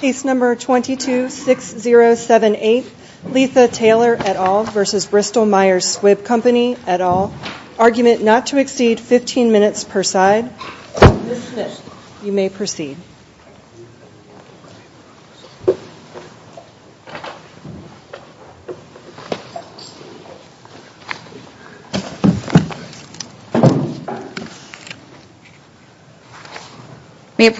Case No. 22-6078, Leatha Taylor et al. v. BristolMyers Squibb Co. et al. Argument not to exceed 15 minutes per side. Ms. Smith, you may proceed. Ms.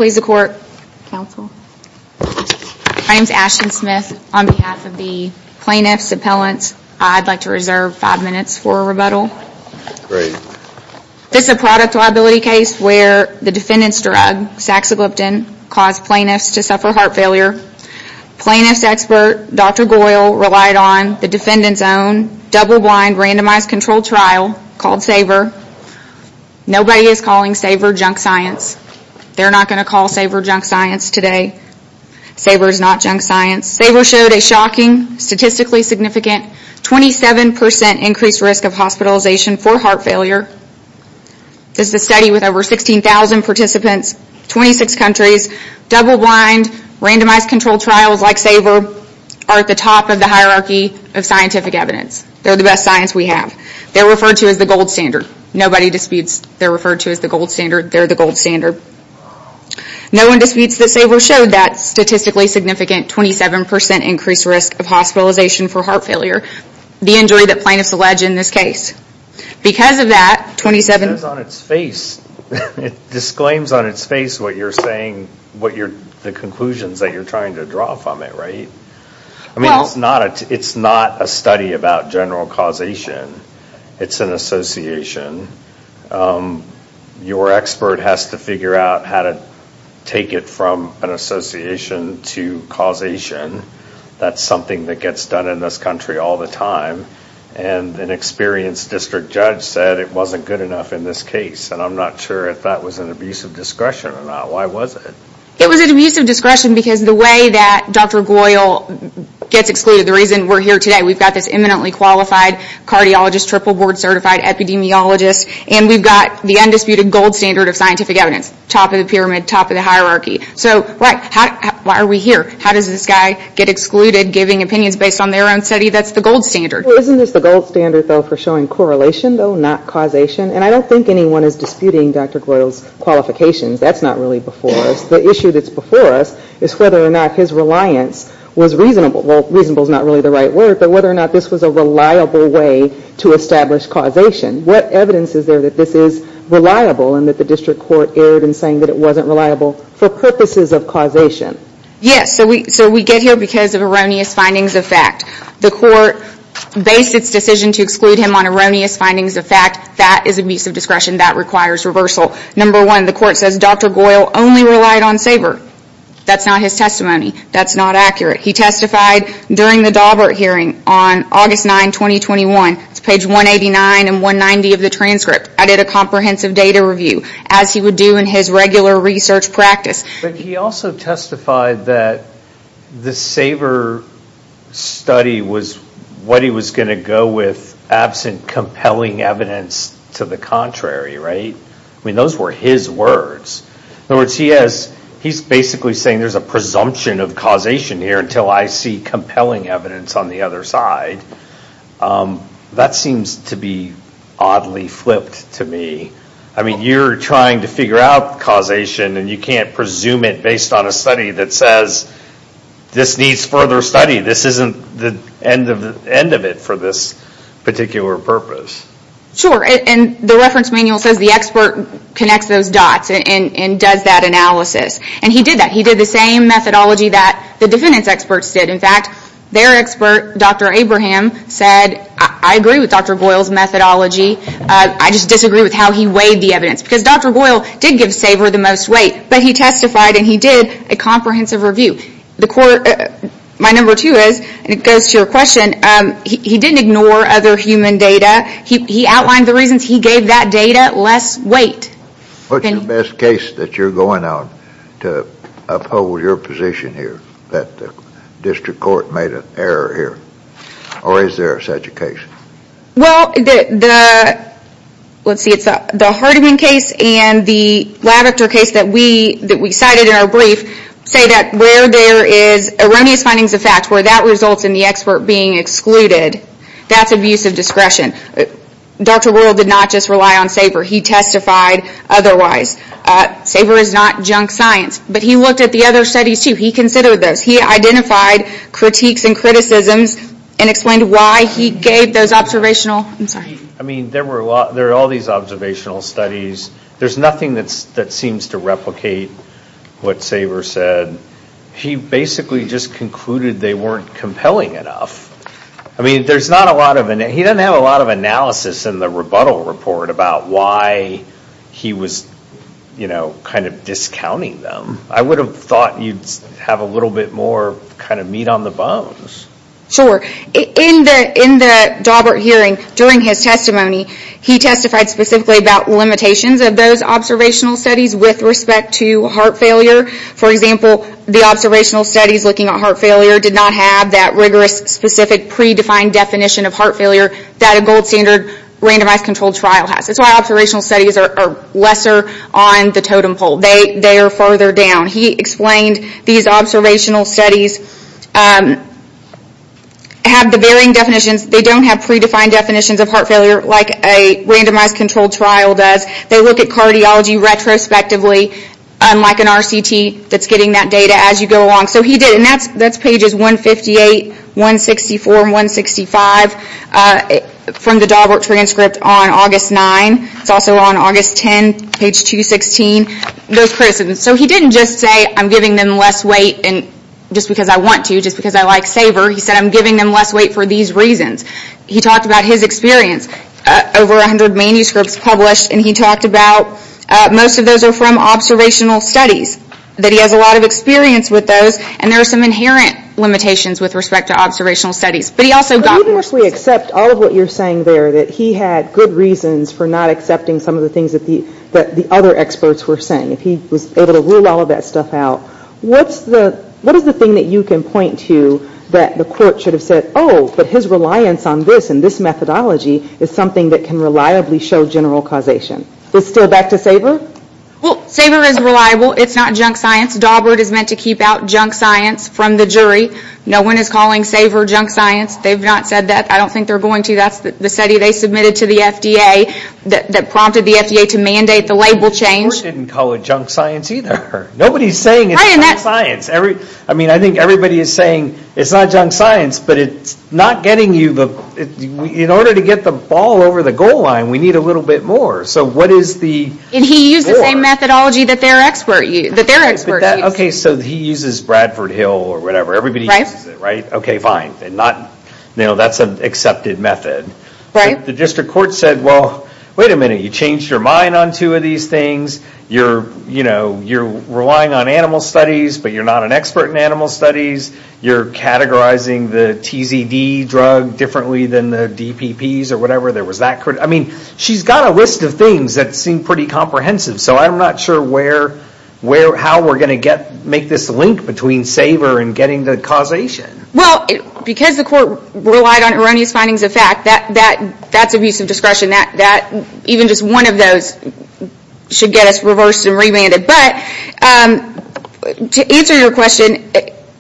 Smith, on behalf of the plaintiff's appellant, I'd like to reserve five minutes for rebuttal. Great. This is a product liability case where the defendant's drug, saxagliptin, caused plaintiffs to suffer heart failure. Plaintiff's expert, Dr. Goyle, relied on the defendant's own double-blind, randomized controlled trial called SAVR. Nobody is calling SAVR junk science. They're not going to call SAVR junk science today. SAVR is not junk science. SAVR showed a shocking, statistically significant 27% increased risk of hospitalization for heart failure. This is a study with over 16,000 participants, 26 countries. Double-blind, randomized controlled trials like SAVR are at the top of the hierarchy of scientific evidence. They're the best science we have. They're referred to as the gold standard. Nobody disputes they're referred to as the gold standard. They're the gold standard. No one disputes that SAVR showed that statistically significant 27% increased risk of hospitalization for heart failure, the injury that plaintiffs allege in this case. Because of that, 27... It says on its face. It disclaims on its face what you're saying, the conclusions that you're trying to draw from it, right? I mean, it's not a study about general causation. It's an association. Your expert has to figure out how to take it from an association to causation. That's something that gets done in this country all the time. And an experienced district judge said it wasn't good enough in this case. And I'm not sure if that was an abuse of discretion or not. Why was it? It was an abuse of discretion because the way that Dr. Goyle gets excluded, the reason we're here today, we've got this eminently qualified cardiologist, triple board certified epidemiologist, and we've got the undisputed gold standard of scientific evidence, top of the pyramid, top of the hierarchy. So, right, why are we here? How does this guy get excluded giving opinions based on their own study? That's the gold standard. Isn't this the gold standard, though, for showing correlation, though, not causation? And I don't think anyone is disputing Dr. Goyle's qualifications. That's not really before us. The issue that's before us is whether or not his reliance was reasonable. Well, reasonable is not really the right word, but whether or not this was a reliable way to establish causation. What evidence is there that this is reliable and that the district court erred in saying that it wasn't reliable for purposes of causation? Yes, so we get here because of erroneous findings of fact. The court based its decision to exclude him on erroneous findings of fact. That is abuse of discretion. That requires reversal. Number one, the court says Dr. Goyle only relied on SABR. That's not his testimony. That's not accurate. He testified during the Daubert hearing on August 9, 2021. It's page 189 and 190 of the transcript. I did a comprehensive data review, as he would do in his regular research practice. But he also testified that the SABR study was what he was going to go with absent compelling evidence to the contrary, right? I mean, those were his words. In other words, he's basically saying there's a presumption of causation here until I see compelling evidence on the other side. That seems to be oddly flipped to me. I mean, you're trying to figure out causation and you can't presume it based on a study that says this needs further study. This isn't the end of it for this particular purpose. Sure, and the reference manual says the expert connects those dots. And does that analysis. And he did that. He did the same methodology that the defendants experts did. In fact, their expert, Dr. Abraham, said I agree with Dr. Goyle's methodology. I just disagree with how he weighed the evidence. Because Dr. Goyle did give SABR the most weight. But he testified and he did a comprehensive review. My number two is, and it goes to your question, he didn't ignore other human data. He outlined the reasons he gave that data less weight. What's the best case that you're going out to uphold your position here? That the district court made an error here? Or is there such a case? Well, let's see, it's the Hardiman case and the Lavector case that we cited in our brief, say that where there is erroneous findings of fact, where that results in the expert being excluded, that's abusive discretion. Dr. Goyle did not just rely on SABR. He testified otherwise. SABR is not junk science. But he looked at the other studies too. He considered those. He identified critiques and criticisms and explained why he gave those observational, I'm sorry. I mean, there are all these observational studies. There's nothing that seems to replicate what SABR said. He basically just concluded they weren't compelling enough. I mean, he doesn't have a lot of analysis in the rebuttal report about why he was kind of discounting them. I would have thought you'd have a little bit more kind of meat on the bones. Sure. In the Daubert hearing, during his testimony, he testified specifically about limitations of those observational studies with respect to heart failure. For example, the observational studies looking at heart failure did not have that rigorous, specific, predefined definition of heart failure that a gold standard randomized controlled trial has. That's why observational studies are lesser on the totem pole. They are farther down. He explained these observational studies have the varying definitions. They don't have predefined definitions of heart failure like a randomized controlled trial does. They look at cardiology retrospectively, unlike an RCT that's getting that data as you go along. So he did. And that's pages 158, 164, and 165 from the Daubert transcript on August 9. It's also on August 10, page 216. Those criticisms. So he didn't just say, I'm giving them less weight just because I want to, just because I like SABR. He said, I'm giving them less weight for these reasons. He talked about his experience. Over 100 manuscripts published. And he talked about most of those are from observational studies. That he has a lot of experience with those. And there are some inherent limitations with respect to observational studies. But he also got more. But even if we accept all of what you're saying there, that he had good reasons for not accepting some of the things that the other experts were saying, if he was able to rule all of that stuff out, what is the thing that you can point to that the court should have said, oh, but his reliance on this and this methodology is something that can reliably show general causation. Still back to SABR? Well, SABR is reliable. It's not junk science. Daubert is meant to keep out junk science from the jury. No one is calling SABR junk science. They've not said that. I don't think they're going to. That's the study they submitted to the FDA that prompted the FDA to mandate the label change. Daubert didn't call it junk science either. Nobody's saying it's junk science. I mean, I think everybody is saying it's not junk science, but in order to get the ball over the goal line, we need a little bit more. So what is the score? And he used the same methodology that their expert used. Okay, so he uses Bradford Hill or whatever. Everybody uses it, right? Okay, fine. That's an accepted method. Right. The district court said, well, wait a minute. You changed your mind on two of these things. You're relying on animal studies, but you're not an expert in animal studies. You're categorizing the TZD drug differently than the DPPs or whatever. I mean, she's got a list of things that seem pretty comprehensive, so I'm not sure how we're going to make this link between SABR and getting the causation. Well, because the court relied on erroneous findings of fact, that's abuse of discretion. Even just one of those should get us reversed and remanded. But to answer your question,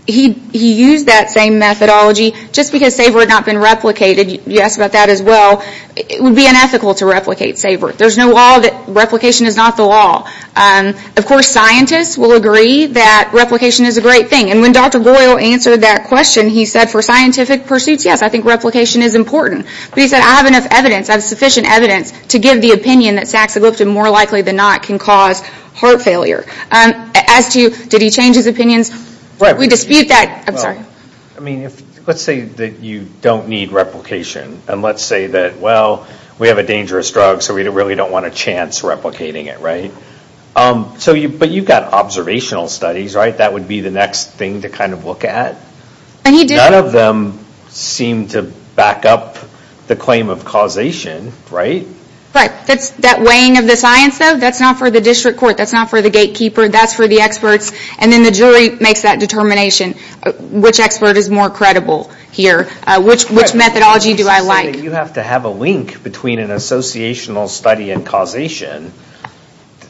he used that same methodology. Just because SABR had not been replicated, you asked about that as well, it would be unethical to replicate SABR. There's no law that replication is not the law. Of course, scientists will agree that replication is a great thing. And when Dr. Boyle answered that question, he said, for scientific pursuits, yes, I think replication is important. But he said, I have sufficient evidence to give the opinion that saxagliptin, more likely than not, can cause heart failure. As to, did he change his opinions? We dispute that. I'm sorry. Let's say that you don't need replication. And let's say that, well, we have a dangerous drug, so we really don't want a chance replicating it, right? But you've got observational studies, right? That would be the next thing to kind of look at? None of them seem to back up the claim of causation, right? Right. That weighing of the science, though? That's not for the district court. That's not for the gatekeeper. That's for the experts. And then the jury makes that determination. Which expert is more credible here? Which methodology do I like? You have to have a link between an associational study and causation.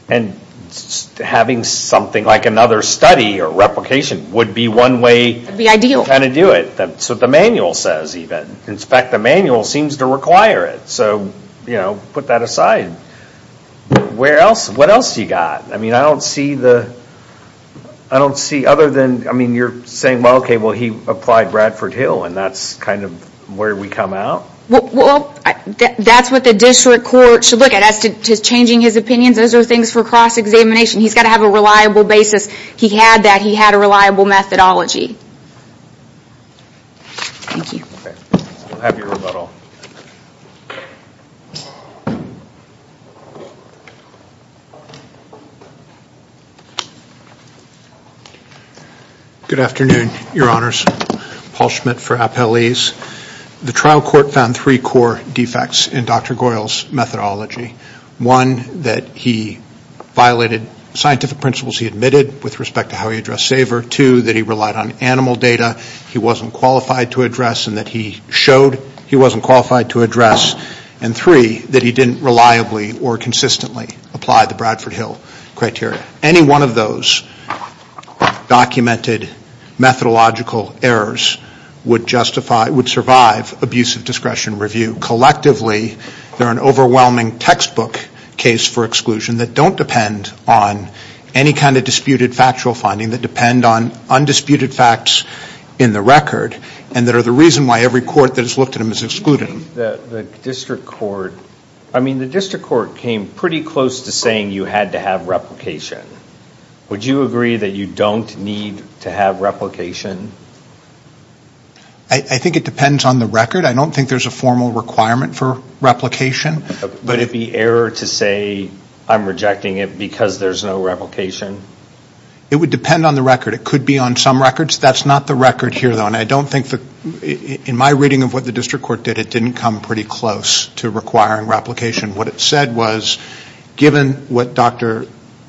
And having something like another study or replication would be one way... That would be ideal. Kind of do it. That's what the manual says, even. In fact, the manual seems to require it. So, you know, put that aside. What else have you got? I mean, I don't see other than... I mean, you're saying, well, okay, well, he applied Bradford Hill, and that's kind of where we come out? Well, that's what the district court should look at. As to changing his opinions, those are things for cross-examination. He's got to have a reliable basis. He had that. He had a reliable methodology. Thank you. We'll have your rebuttal. Good afternoon, Your Honors. Paul Schmidt for Appellees. The trial court found three core defects in Dr. Goyle's methodology. One, that he violated scientific principles he admitted with respect to how he addressed SAVER. Two, that he relied on animal data he wasn't qualified to address and that he showed he wasn't qualified to address. And three, that he didn't reliably or consistently apply the Bradford Hill criteria. Any one of those documented methodological errors would justify, would survive abusive discretion review. Collectively, they're an overwhelming textbook case for exclusion that don't depend on any kind of disputed factual finding, that depend on undisputed facts in the record and that are the reason why every court that has looked at them has excluded them. The district court came pretty close to saying you had to have replication. Would you agree that you don't need to have replication? I think it depends on the record. I don't think there's a formal requirement for replication. Would it be error to say I'm rejecting it because there's no replication? It would depend on the record. It could be on some records. That's not the record here, though. And I don't think, in my reading of what the district court did, it didn't come pretty close to requiring replication. What it said was, given what Dr.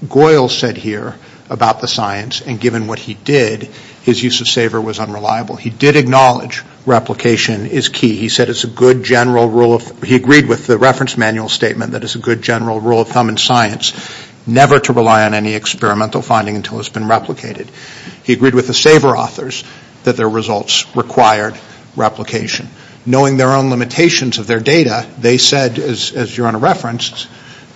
Goyle said here about the science and given what he did, his use of SAVER was unreliable. He did acknowledge replication is key. He said it's a good general rule of thumb. He agreed with the reference manual statement that it's a good general rule of thumb in science never to rely on any experimental finding until it's been replicated. He agreed with the SAVER authors that their results required replication. Knowing their own limitations of their data, they said, as your Honor referenced,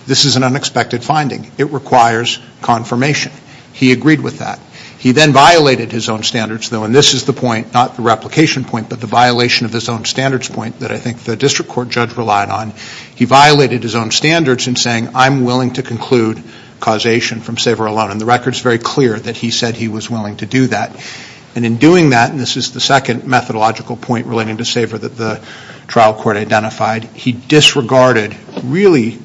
this is an unexpected finding. It requires confirmation. He agreed with that. He then violated his own standards, though, and this is the point, not the replication point, but the violation of his own standards point that I think the district court judge relied on. He violated his own standards in saying, I'm willing to conclude causation from SAVER alone. And the record is very clear that he said he was willing to do that. And in doing that, and this is the second methodological point relating to SAVER that the trial court identified, he disregarded really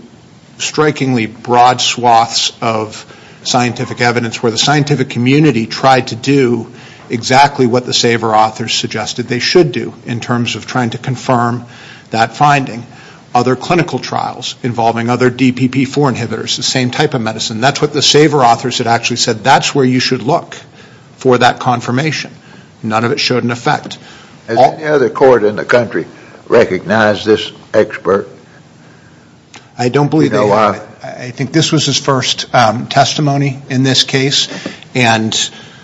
strikingly broad swaths of scientific evidence where the scientific community tried to do exactly what the SAVER authors suggested they should do in terms of trying to confirm that finding. Other clinical trials involving other DPP-4 inhibitors, the same type of medicine, that's what the SAVER authors had actually said, that's where you should look for that confirmation. None of it showed an effect. Has any other court in the country recognized this expert? I don't believe they have. I think this was his first testimony in this case, and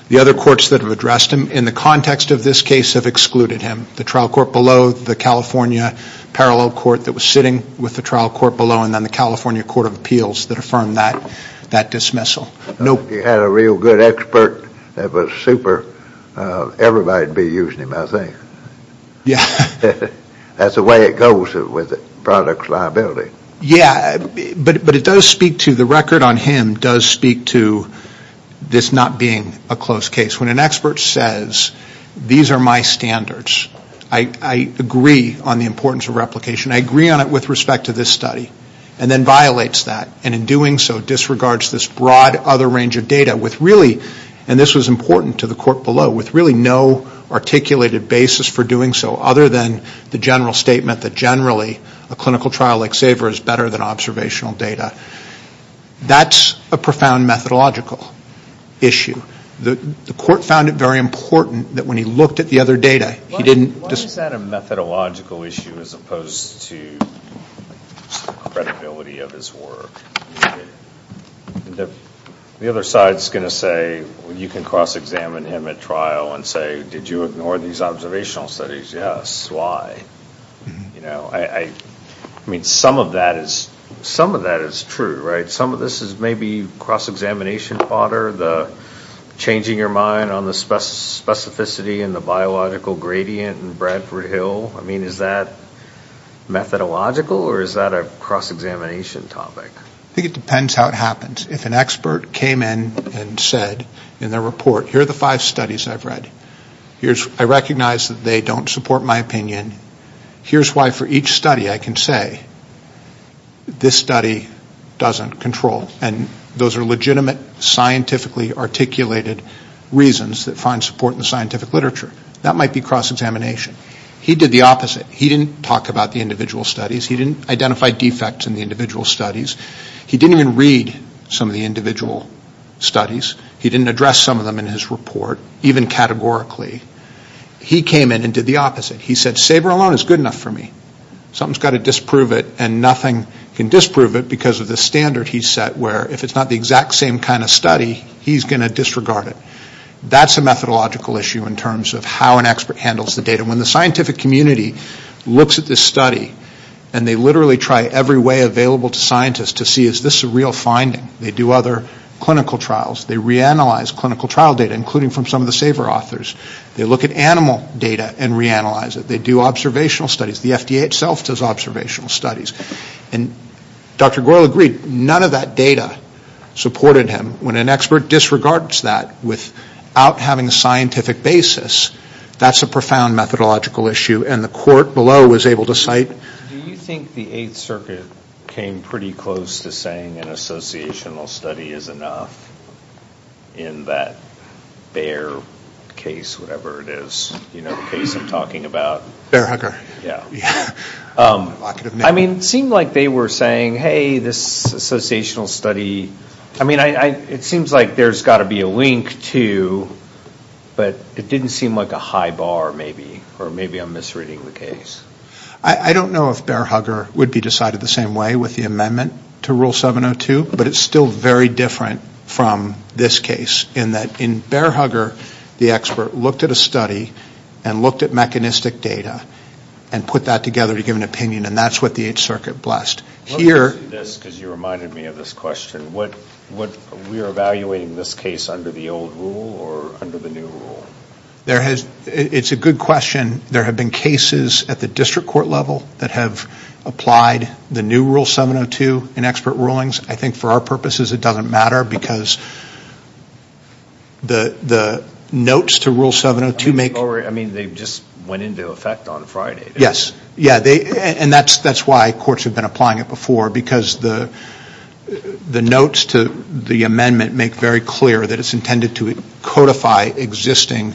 the other courts that have addressed him in the context of this case have excluded him. The trial court below, the California parallel court that was sitting with the trial court below, and then the California Court of Appeals that affirmed that dismissal. If he had a real good expert that was super, everybody would be using him, I think. Yeah. That's the way it goes with products liability. Yeah, but it does speak to, the record on him does speak to this not being a close case. When an expert says, these are my standards, I agree on the importance of replication, I agree on it with respect to this study, and then violates that, and in doing so disregards this broad other range of data with really, and this was important to the court below, with really no articulated basis for doing so other than the general statement that, generally, a clinical trial like SAFER is better than observational data. That's a profound methodological issue. The court found it very important that when he looked at the other data, he didn't just Why is that a methodological issue as opposed to credibility of his work? The other side is going to say, you can cross-examine him at trial and say, did you ignore these observational studies? Yes. Why? I mean, some of that is true, right? Some of this is maybe cross-examination fodder, the changing your mind on the specificity and the biological gradient in Bradford Hill. I mean, is that methodological or is that a cross-examination topic? I think it depends how it happens. If an expert came in and said in their report, here are the five studies I've read. I recognize that they don't support my opinion. Here's why for each study I can say, this study doesn't control, and those are legitimate scientifically articulated reasons that find support in scientific literature. That might be cross-examination. He did the opposite. He didn't talk about the individual studies. He didn't identify defects in the individual studies. He didn't even read some of the individual studies. He didn't address some of them in his report, even categorically. He came in and did the opposite. He said, SABRE alone is good enough for me. Something's got to disprove it and nothing can disprove it because of the standard he set where if it's not the exact same kind of study, he's going to disregard it. That's a methodological issue in terms of how an expert handles the data. When the scientific community looks at this study and they literally try every way available to scientists to see, is this a real finding? They do other clinical trials. They reanalyze clinical trial data, including from some of the SABRE authors. They look at animal data and reanalyze it. They do observational studies. The FDA itself does observational studies. And Dr. Goyle agreed, none of that data supported him. When an expert disregards that without having a scientific basis, that's a profound methodological issue. And the court below was able to cite. Do you think the Eighth Circuit came pretty close to saying an associational study is enough in that Bayer case, whatever it is, you know, the case I'm talking about? Bayer-Hooker. Yeah. I mean, it seemed like they were saying, hey, this associational study. I mean, it seems like there's got to be a link, too. But it didn't seem like a high bar, maybe. Or maybe I'm misreading the case. I don't know if Bayer-Hooker would be decided the same way with the amendment to Rule 702. But it's still very different from this case in that in Bayer-Hooker, the expert looked at a study and looked at mechanistic data and put that together to give an opinion. And that's what the Eighth Circuit blessed. Because you reminded me of this question. We're evaluating this case under the old rule or under the new rule? It's a good question. There have been cases at the district court level that have applied the new Rule 702 in expert rulings. I think for our purposes it doesn't matter because the notes to Rule 702 make. I mean, they just went into effect on Friday. Yes. And that's why courts have been applying it before. Because the notes to the amendment make very clear that it's intended to codify existing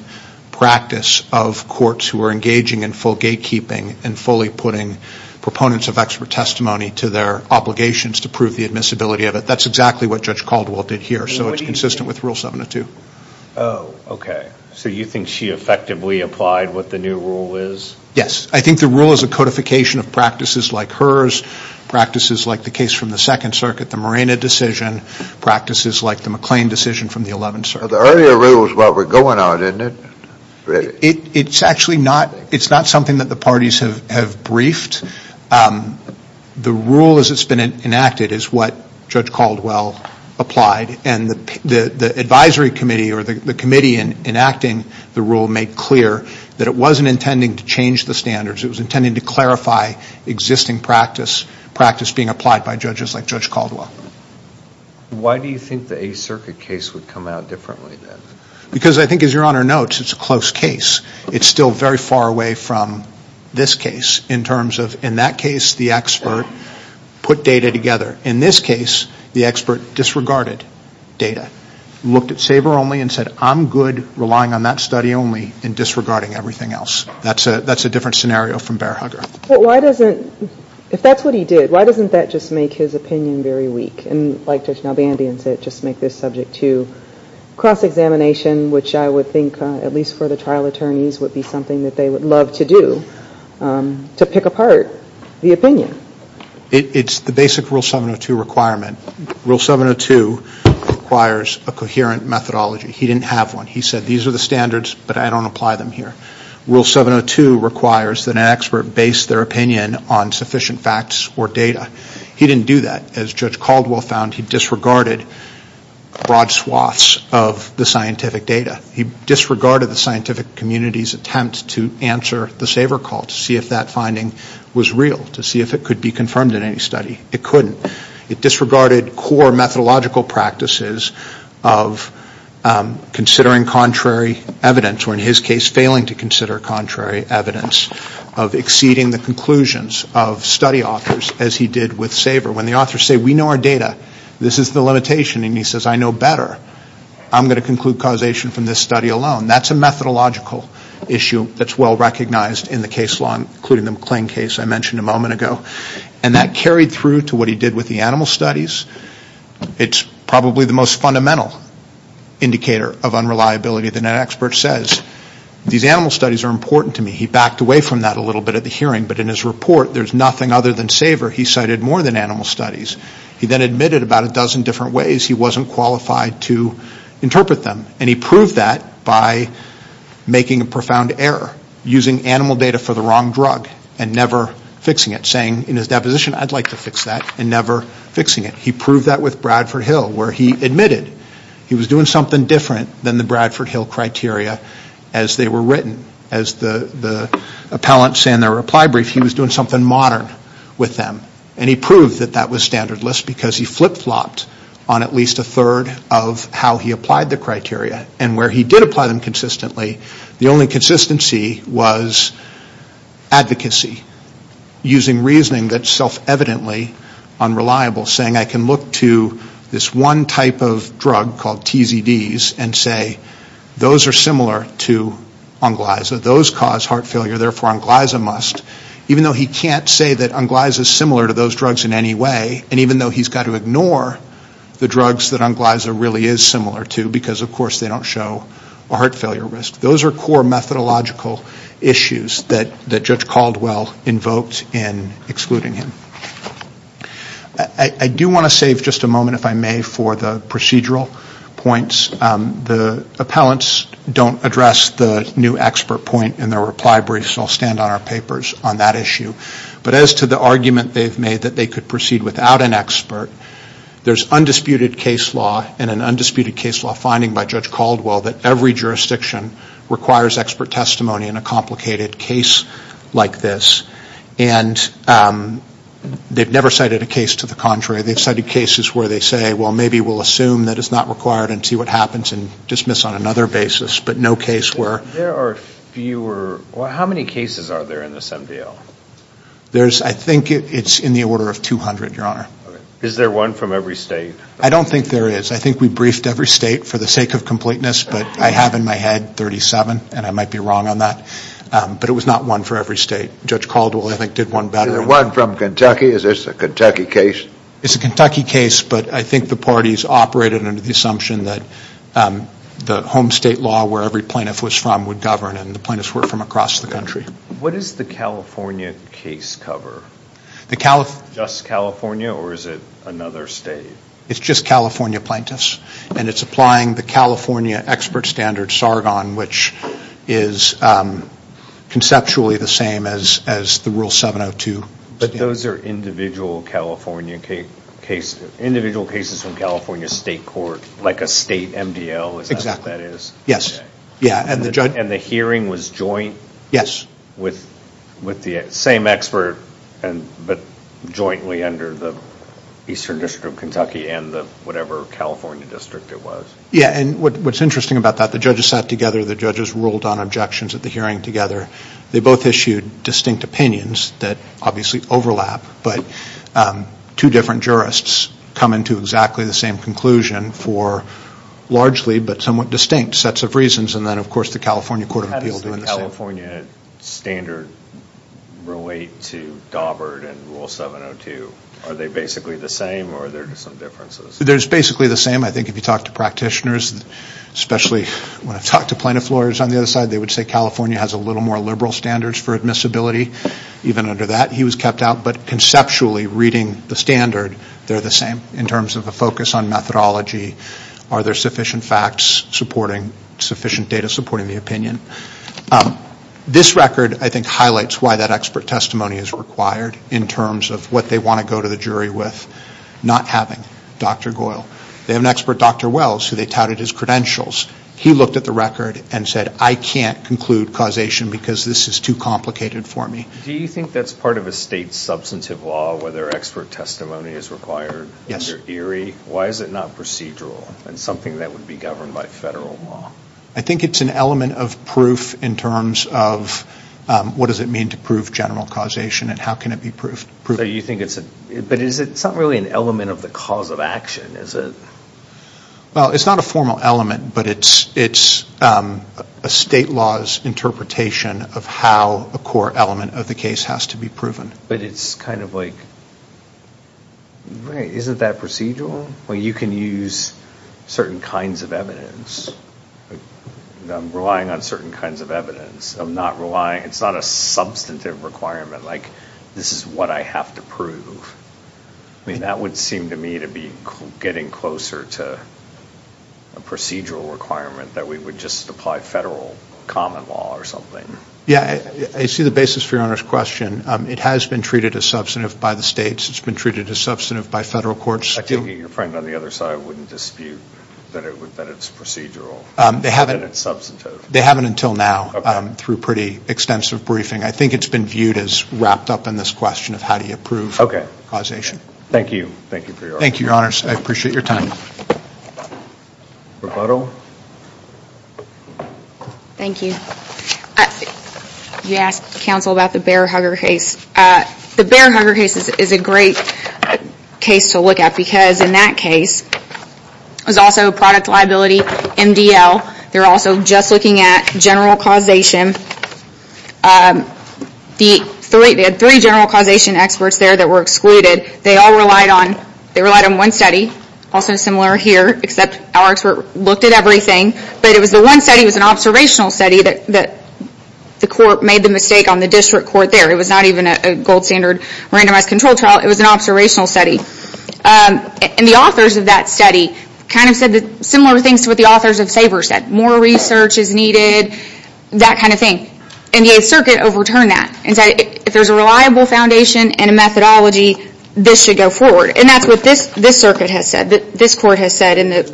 practice of courts who are engaging in full gatekeeping and fully putting proponents of expert testimony to their obligations to prove the admissibility of it. That's exactly what Judge Caldwell did here. So it's consistent with Rule 702. Oh, okay. So you think she effectively applied what the new rule is? Yes. I think the rule is a codification of practices like hers, practices like the case from the Second Circuit, the Morena decision, practices like the McLean decision from the Eleventh Circuit. The earlier rule is what we're going on, isn't it? It's actually not. It's not something that the parties have briefed. The rule as it's been enacted is what Judge Caldwell applied. And the advisory committee or the committee enacting the rule made clear that it wasn't intending to change the standards. It was intending to clarify existing practice, practice being applied by judges like Judge Caldwell. Why do you think the Eighth Circuit case would come out differently then? Because I think, as Your Honor notes, it's a close case. It's still very far away from this case in terms of, in that case, the expert put data together. In this case, the expert disregarded data, looked at Sabre only and said, I'm good relying on that study only and disregarding everything else. That's a different scenario from Bear Hugger. But why doesn't, if that's what he did, why doesn't that just make his opinion very weak? And like Judge Nalbandian said, just make this subject to cross-examination, which I would think, at least for the trial attorneys, would be something that they would love to do to pick apart the opinion. It's the basic Rule 702 requirement. Rule 702 requires a coherent methodology. He didn't have one. He said, these are the standards, but I don't apply them here. Rule 702 requires that an expert base their opinion on sufficient facts or data. He didn't do that. As Judge Caldwell found, he disregarded broad swaths of the scientific data. He disregarded the scientific community's attempt to answer the Sabre call, to see if that finding was real, to see if it could be confirmed in any study. It couldn't. It disregarded core methodological practices of considering contrary evidence, or in his case failing to consider contrary evidence, of exceeding the conclusions of study authors as he did with Sabre. When the authors say, we know our data, this is the limitation, and he says, I know better. I'm going to conclude causation from this study alone. That's a methodological issue that's well recognized in the case law, including the McLean case I mentioned a moment ago. And that carried through to what he did with the animal studies. It's probably the most fundamental indicator of unreliability. The net expert says, these animal studies are important to me. He backed away from that a little bit at the hearing, but in his report there's nothing other than Sabre he cited more than animal studies. He then admitted about a dozen different ways he wasn't qualified to interpret them. And he proved that by making a profound error, using animal data for the wrong drug, and never fixing it. Saying in his deposition, I'd like to fix that, and never fixing it. He proved that with Bradford Hill, where he admitted he was doing something different than the Bradford Hill criteria as they were written. As the appellant said in their reply brief, he was doing something modern with them. And he proved that that was standard list because he flip-flopped on at least a third of how he applied the criteria. And where he did apply them consistently, the only consistency was advocacy. Using reasoning that's self-evidently unreliable, saying I can look to this one type of drug called TZDs and say, those are similar to Onglyza, those cause heart failure, therefore Onglyza must. Even though he can't say that Onglyza is similar to those drugs in any way, and even though he's got to ignore the drugs that Onglyza really is similar to, because of course they don't show a heart failure risk. Those are core methodological issues that Judge Caldwell invoked in excluding him. I do want to save just a moment, if I may, for the procedural points. The appellants don't address the new expert point in their reply brief, so I'll stand on our papers on that issue. But as to the argument they've made that they could proceed without an expert, there's undisputed case law and an undisputed case law finding by Judge Caldwell that every jurisdiction requires expert testimony in a complicated case like this. And they've never cited a case to the contrary. They've cited cases where they say, well, maybe we'll assume that it's not required and see what happens and dismiss on another basis, but no case where. There are fewer. How many cases are there in this MDL? I think it's in the order of 200, Your Honor. Is there one from every state? I don't think there is. I think we briefed every state for the sake of completeness, but I have in my head 37, and I might be wrong on that. But it was not one for every state. Judge Caldwell, I think, did one better. Is there one from Kentucky? Is this a Kentucky case? It's a Kentucky case, but I think the parties operated under the assumption that the home state law where every plaintiff was from would govern, and the plaintiffs were from across the country. What is the California case cover? Just California, or is it another state? It's just California plaintiffs, and it's applying the California expert standard, Sargon, which is conceptually the same as the Rule 702. But those are individual California cases. Individual cases from California state court, like a state MDL, is that what that is? Exactly. Yes. And the hearing was joint? Yes. With the same expert, but jointly under the Eastern District of Kentucky and the whatever California district it was? Yes, and what's interesting about that, the judges sat together, the judges ruled on objections at the hearing together. They both issued distinct opinions that obviously overlap, but two different jurists come into exactly the same conclusion for largely but somewhat distinct sets of reasons, and then of course the California Court of Appeal doing the same. How does the California standard relate to Dawbert and Rule 702? Are they basically the same, or are there some differences? They're basically the same. I think if you talk to practitioners, especially when I've talked to plaintiff lawyers on the other side, they would say California has a little more liberal standards for admissibility. Even under that, he was kept out, but conceptually reading the standard, they're the same. In terms of a focus on methodology, are there sufficient facts supporting, sufficient data supporting the opinion? This record, I think, highlights why that expert testimony is required in terms of what they want to go to the jury with, not having Dr. Goyle. They have an expert, Dr. Wells, who they touted his credentials. He looked at the record and said, I can't conclude causation because this is too complicated for me. Do you think that's part of a state's substantive law, whether expert testimony is required? Yes. Why is it not procedural and something that would be governed by federal law? I think it's an element of proof in terms of what does it mean to prove general causation and how can it be proved. But it's not really an element of the cause of action, is it? Well, it's not a formal element, but it's a state law's interpretation of how a core element of the case has to be proven. But it's kind of like, right, isn't that procedural? You can use certain kinds of evidence. I'm relying on certain kinds of evidence. It's not a substantive requirement, like this is what I have to prove. That would seem to me to be getting closer to a procedural requirement that we would just apply federal common law or something. Yeah, I see the basis for Your Honor's question. It has been treated as substantive by the states. It's been treated as substantive by federal courts. I think that your friend on the other side wouldn't dispute that it's procedural, that it's substantive. They haven't until now through pretty extensive briefing. I think it's been viewed as wrapped up in this question of how do you prove. Okay. Thank you. Thank you for your honor. Thank you, Your Honor. I appreciate your time. Rebuttal. Thank you. You asked counsel about the Bear-Hugger case. The Bear-Hugger case is a great case to look at because in that case, there's also a product liability, MDL. They're also just looking at general causation. They had three general causation experts there that were excluded. They all relied on one study, also similar here, except our expert looked at everything. But it was the one study that was an observational study that the court made the mistake on the district court there. It was not even a gold standard randomized control trial. It was an observational study. And the authors of that study kind of said similar things to what the authors of SABR said. More research is needed, that kind of thing. And the 8th Circuit overturned that and said if there's a reliable foundation and a methodology, this should go forward. And that's what this circuit has said, this court has said. The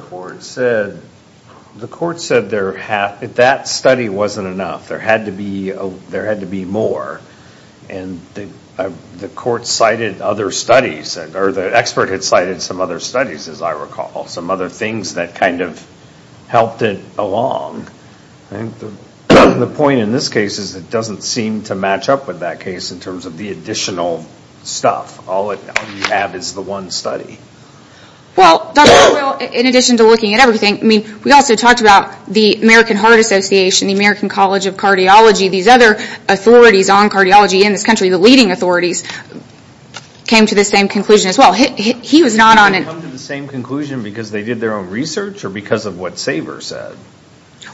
court said that study wasn't enough. There had to be more. And the expert had cited some other studies, as I recall, some other things that kind of helped it along. I think the point in this case is it doesn't seem to match up with that case in terms of the additional stuff. All you have is the one study. Well, in addition to looking at everything, we also talked about the American Heart Association, the American College of Cardiology, these other authorities on cardiology in this country, the leading authorities, came to the same conclusion as well. He was not on it. Did they come to the same conclusion because they did their own research or because of what SABR said?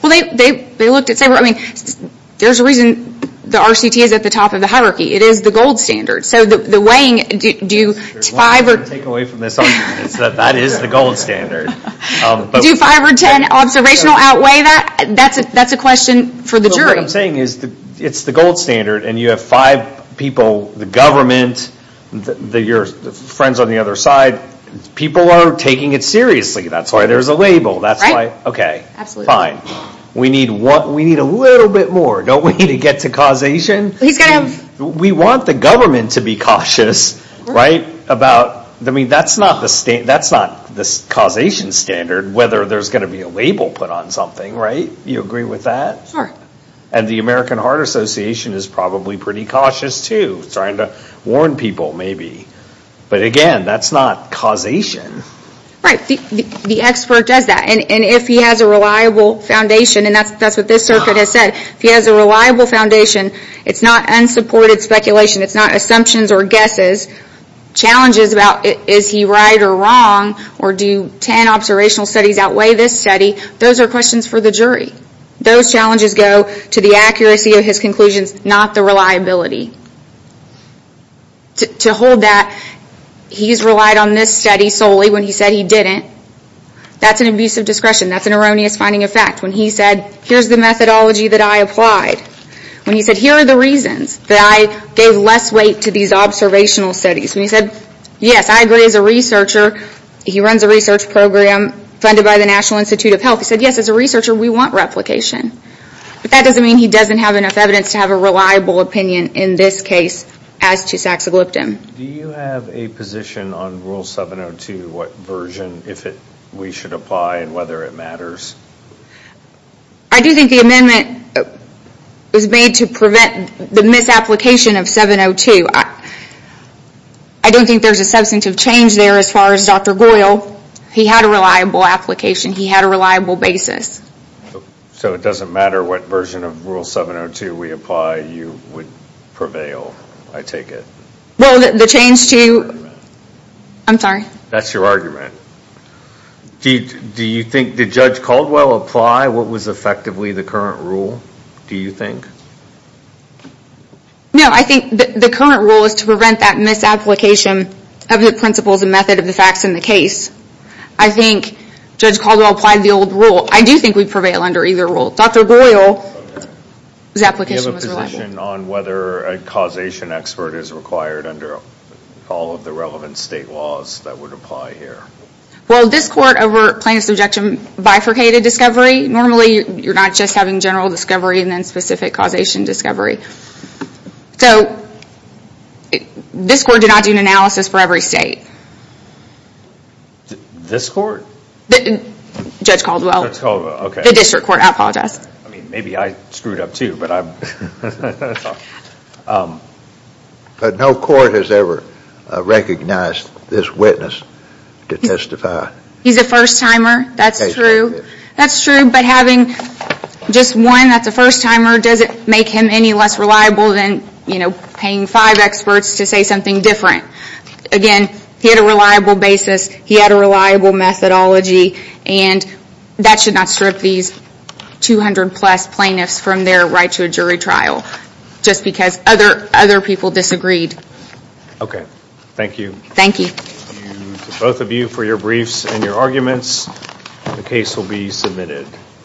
Well, they looked at SABR. I mean, there's a reason the RCT is at the top of the hierarchy. It is the gold standard. So the weighing, do 5 or... There's one thing I can take away from this argument is that that is the gold standard. Do 5 or 10 observational outweigh that? That's a question for the jury. What I'm saying is it's the gold standard and you have 5 people, the government, your friends on the other side. People are taking it seriously. That's why there's a label. That's why... Okay, fine. We need a little bit more. Don't we need to get to causation? We want the government to be cautious, right? About... I mean, that's not the causation standard, whether there's gonna be a label put on something, right? You agree with that? Sure. And the American Heart Association is probably pretty cautious too, trying to warn people, maybe. But again, that's not causation. Right. The expert does that. And if he has a reliable foundation, and that's what this circuit has said, if he has a reliable foundation, it's not unsupported speculation. It's not assumptions or guesses. Challenges about is he right or wrong or do 10 observational studies outweigh this study, those are questions for the jury. Those challenges go to the accuracy of his conclusions, not the reliability. To hold that he's relied on this study solely when he said he didn't, that's an abuse of discretion. That's an erroneous finding of fact. When he said, here's the methodology that I applied. When he said, here are the reasons that I gave less weight to these observational studies. When he said, yes, I agree as a researcher, he runs a research program funded by the National Institute of Health. He said, yes, as a researcher, we want replication. But that doesn't mean he doesn't have enough evidence to have a reliable opinion in this case as to saxagliptin. Do you have a position on Rule 702, what version, if we should apply, and whether it matters? I do think the amendment is made to prevent the misapplication of 702. I don't think there's a substantive change there as far as Dr. Goyle. He had a reliable application. He had a reliable basis. So it doesn't matter what version of Rule 702 we apply, you would prevail, I take it? Well, the change to... I'm sorry. That's your argument. Do you think... Did Judge Caldwell apply what was effectively the current rule, do you think? No, I think the current rule is to prevent that misapplication of the principles and method of the facts in the case. I think Judge Caldwell applied the old rule. I do think we prevail under either rule. Dr. Goyle's application was reliable. Do you have a position on whether a causation expert is required under all of the relevant state laws that would apply here? Well, this Court over plaintiff's objection bifurcated discovery. Normally, you're not just having general discovery and then specific causation discovery. So this Court did not do an analysis for every state. This Court? Judge Caldwell. Judge Caldwell, okay. The District Court, I apologize. I mean, maybe I screwed up too, but I'm... But no court has ever recognized this witness to testify. He's a first-timer, that's true. That's true, but having just one that's a first-timer, does it make him any less reliable than paying five experts to say something different? Again, he had a reliable basis, he had a reliable methodology, and that should not strip these 200-plus plaintiffs from their right to a jury trial just because other people disagreed. Okay, thank you. Thank you. Thank you to both of you for your briefs and your arguments. The case will be submitted.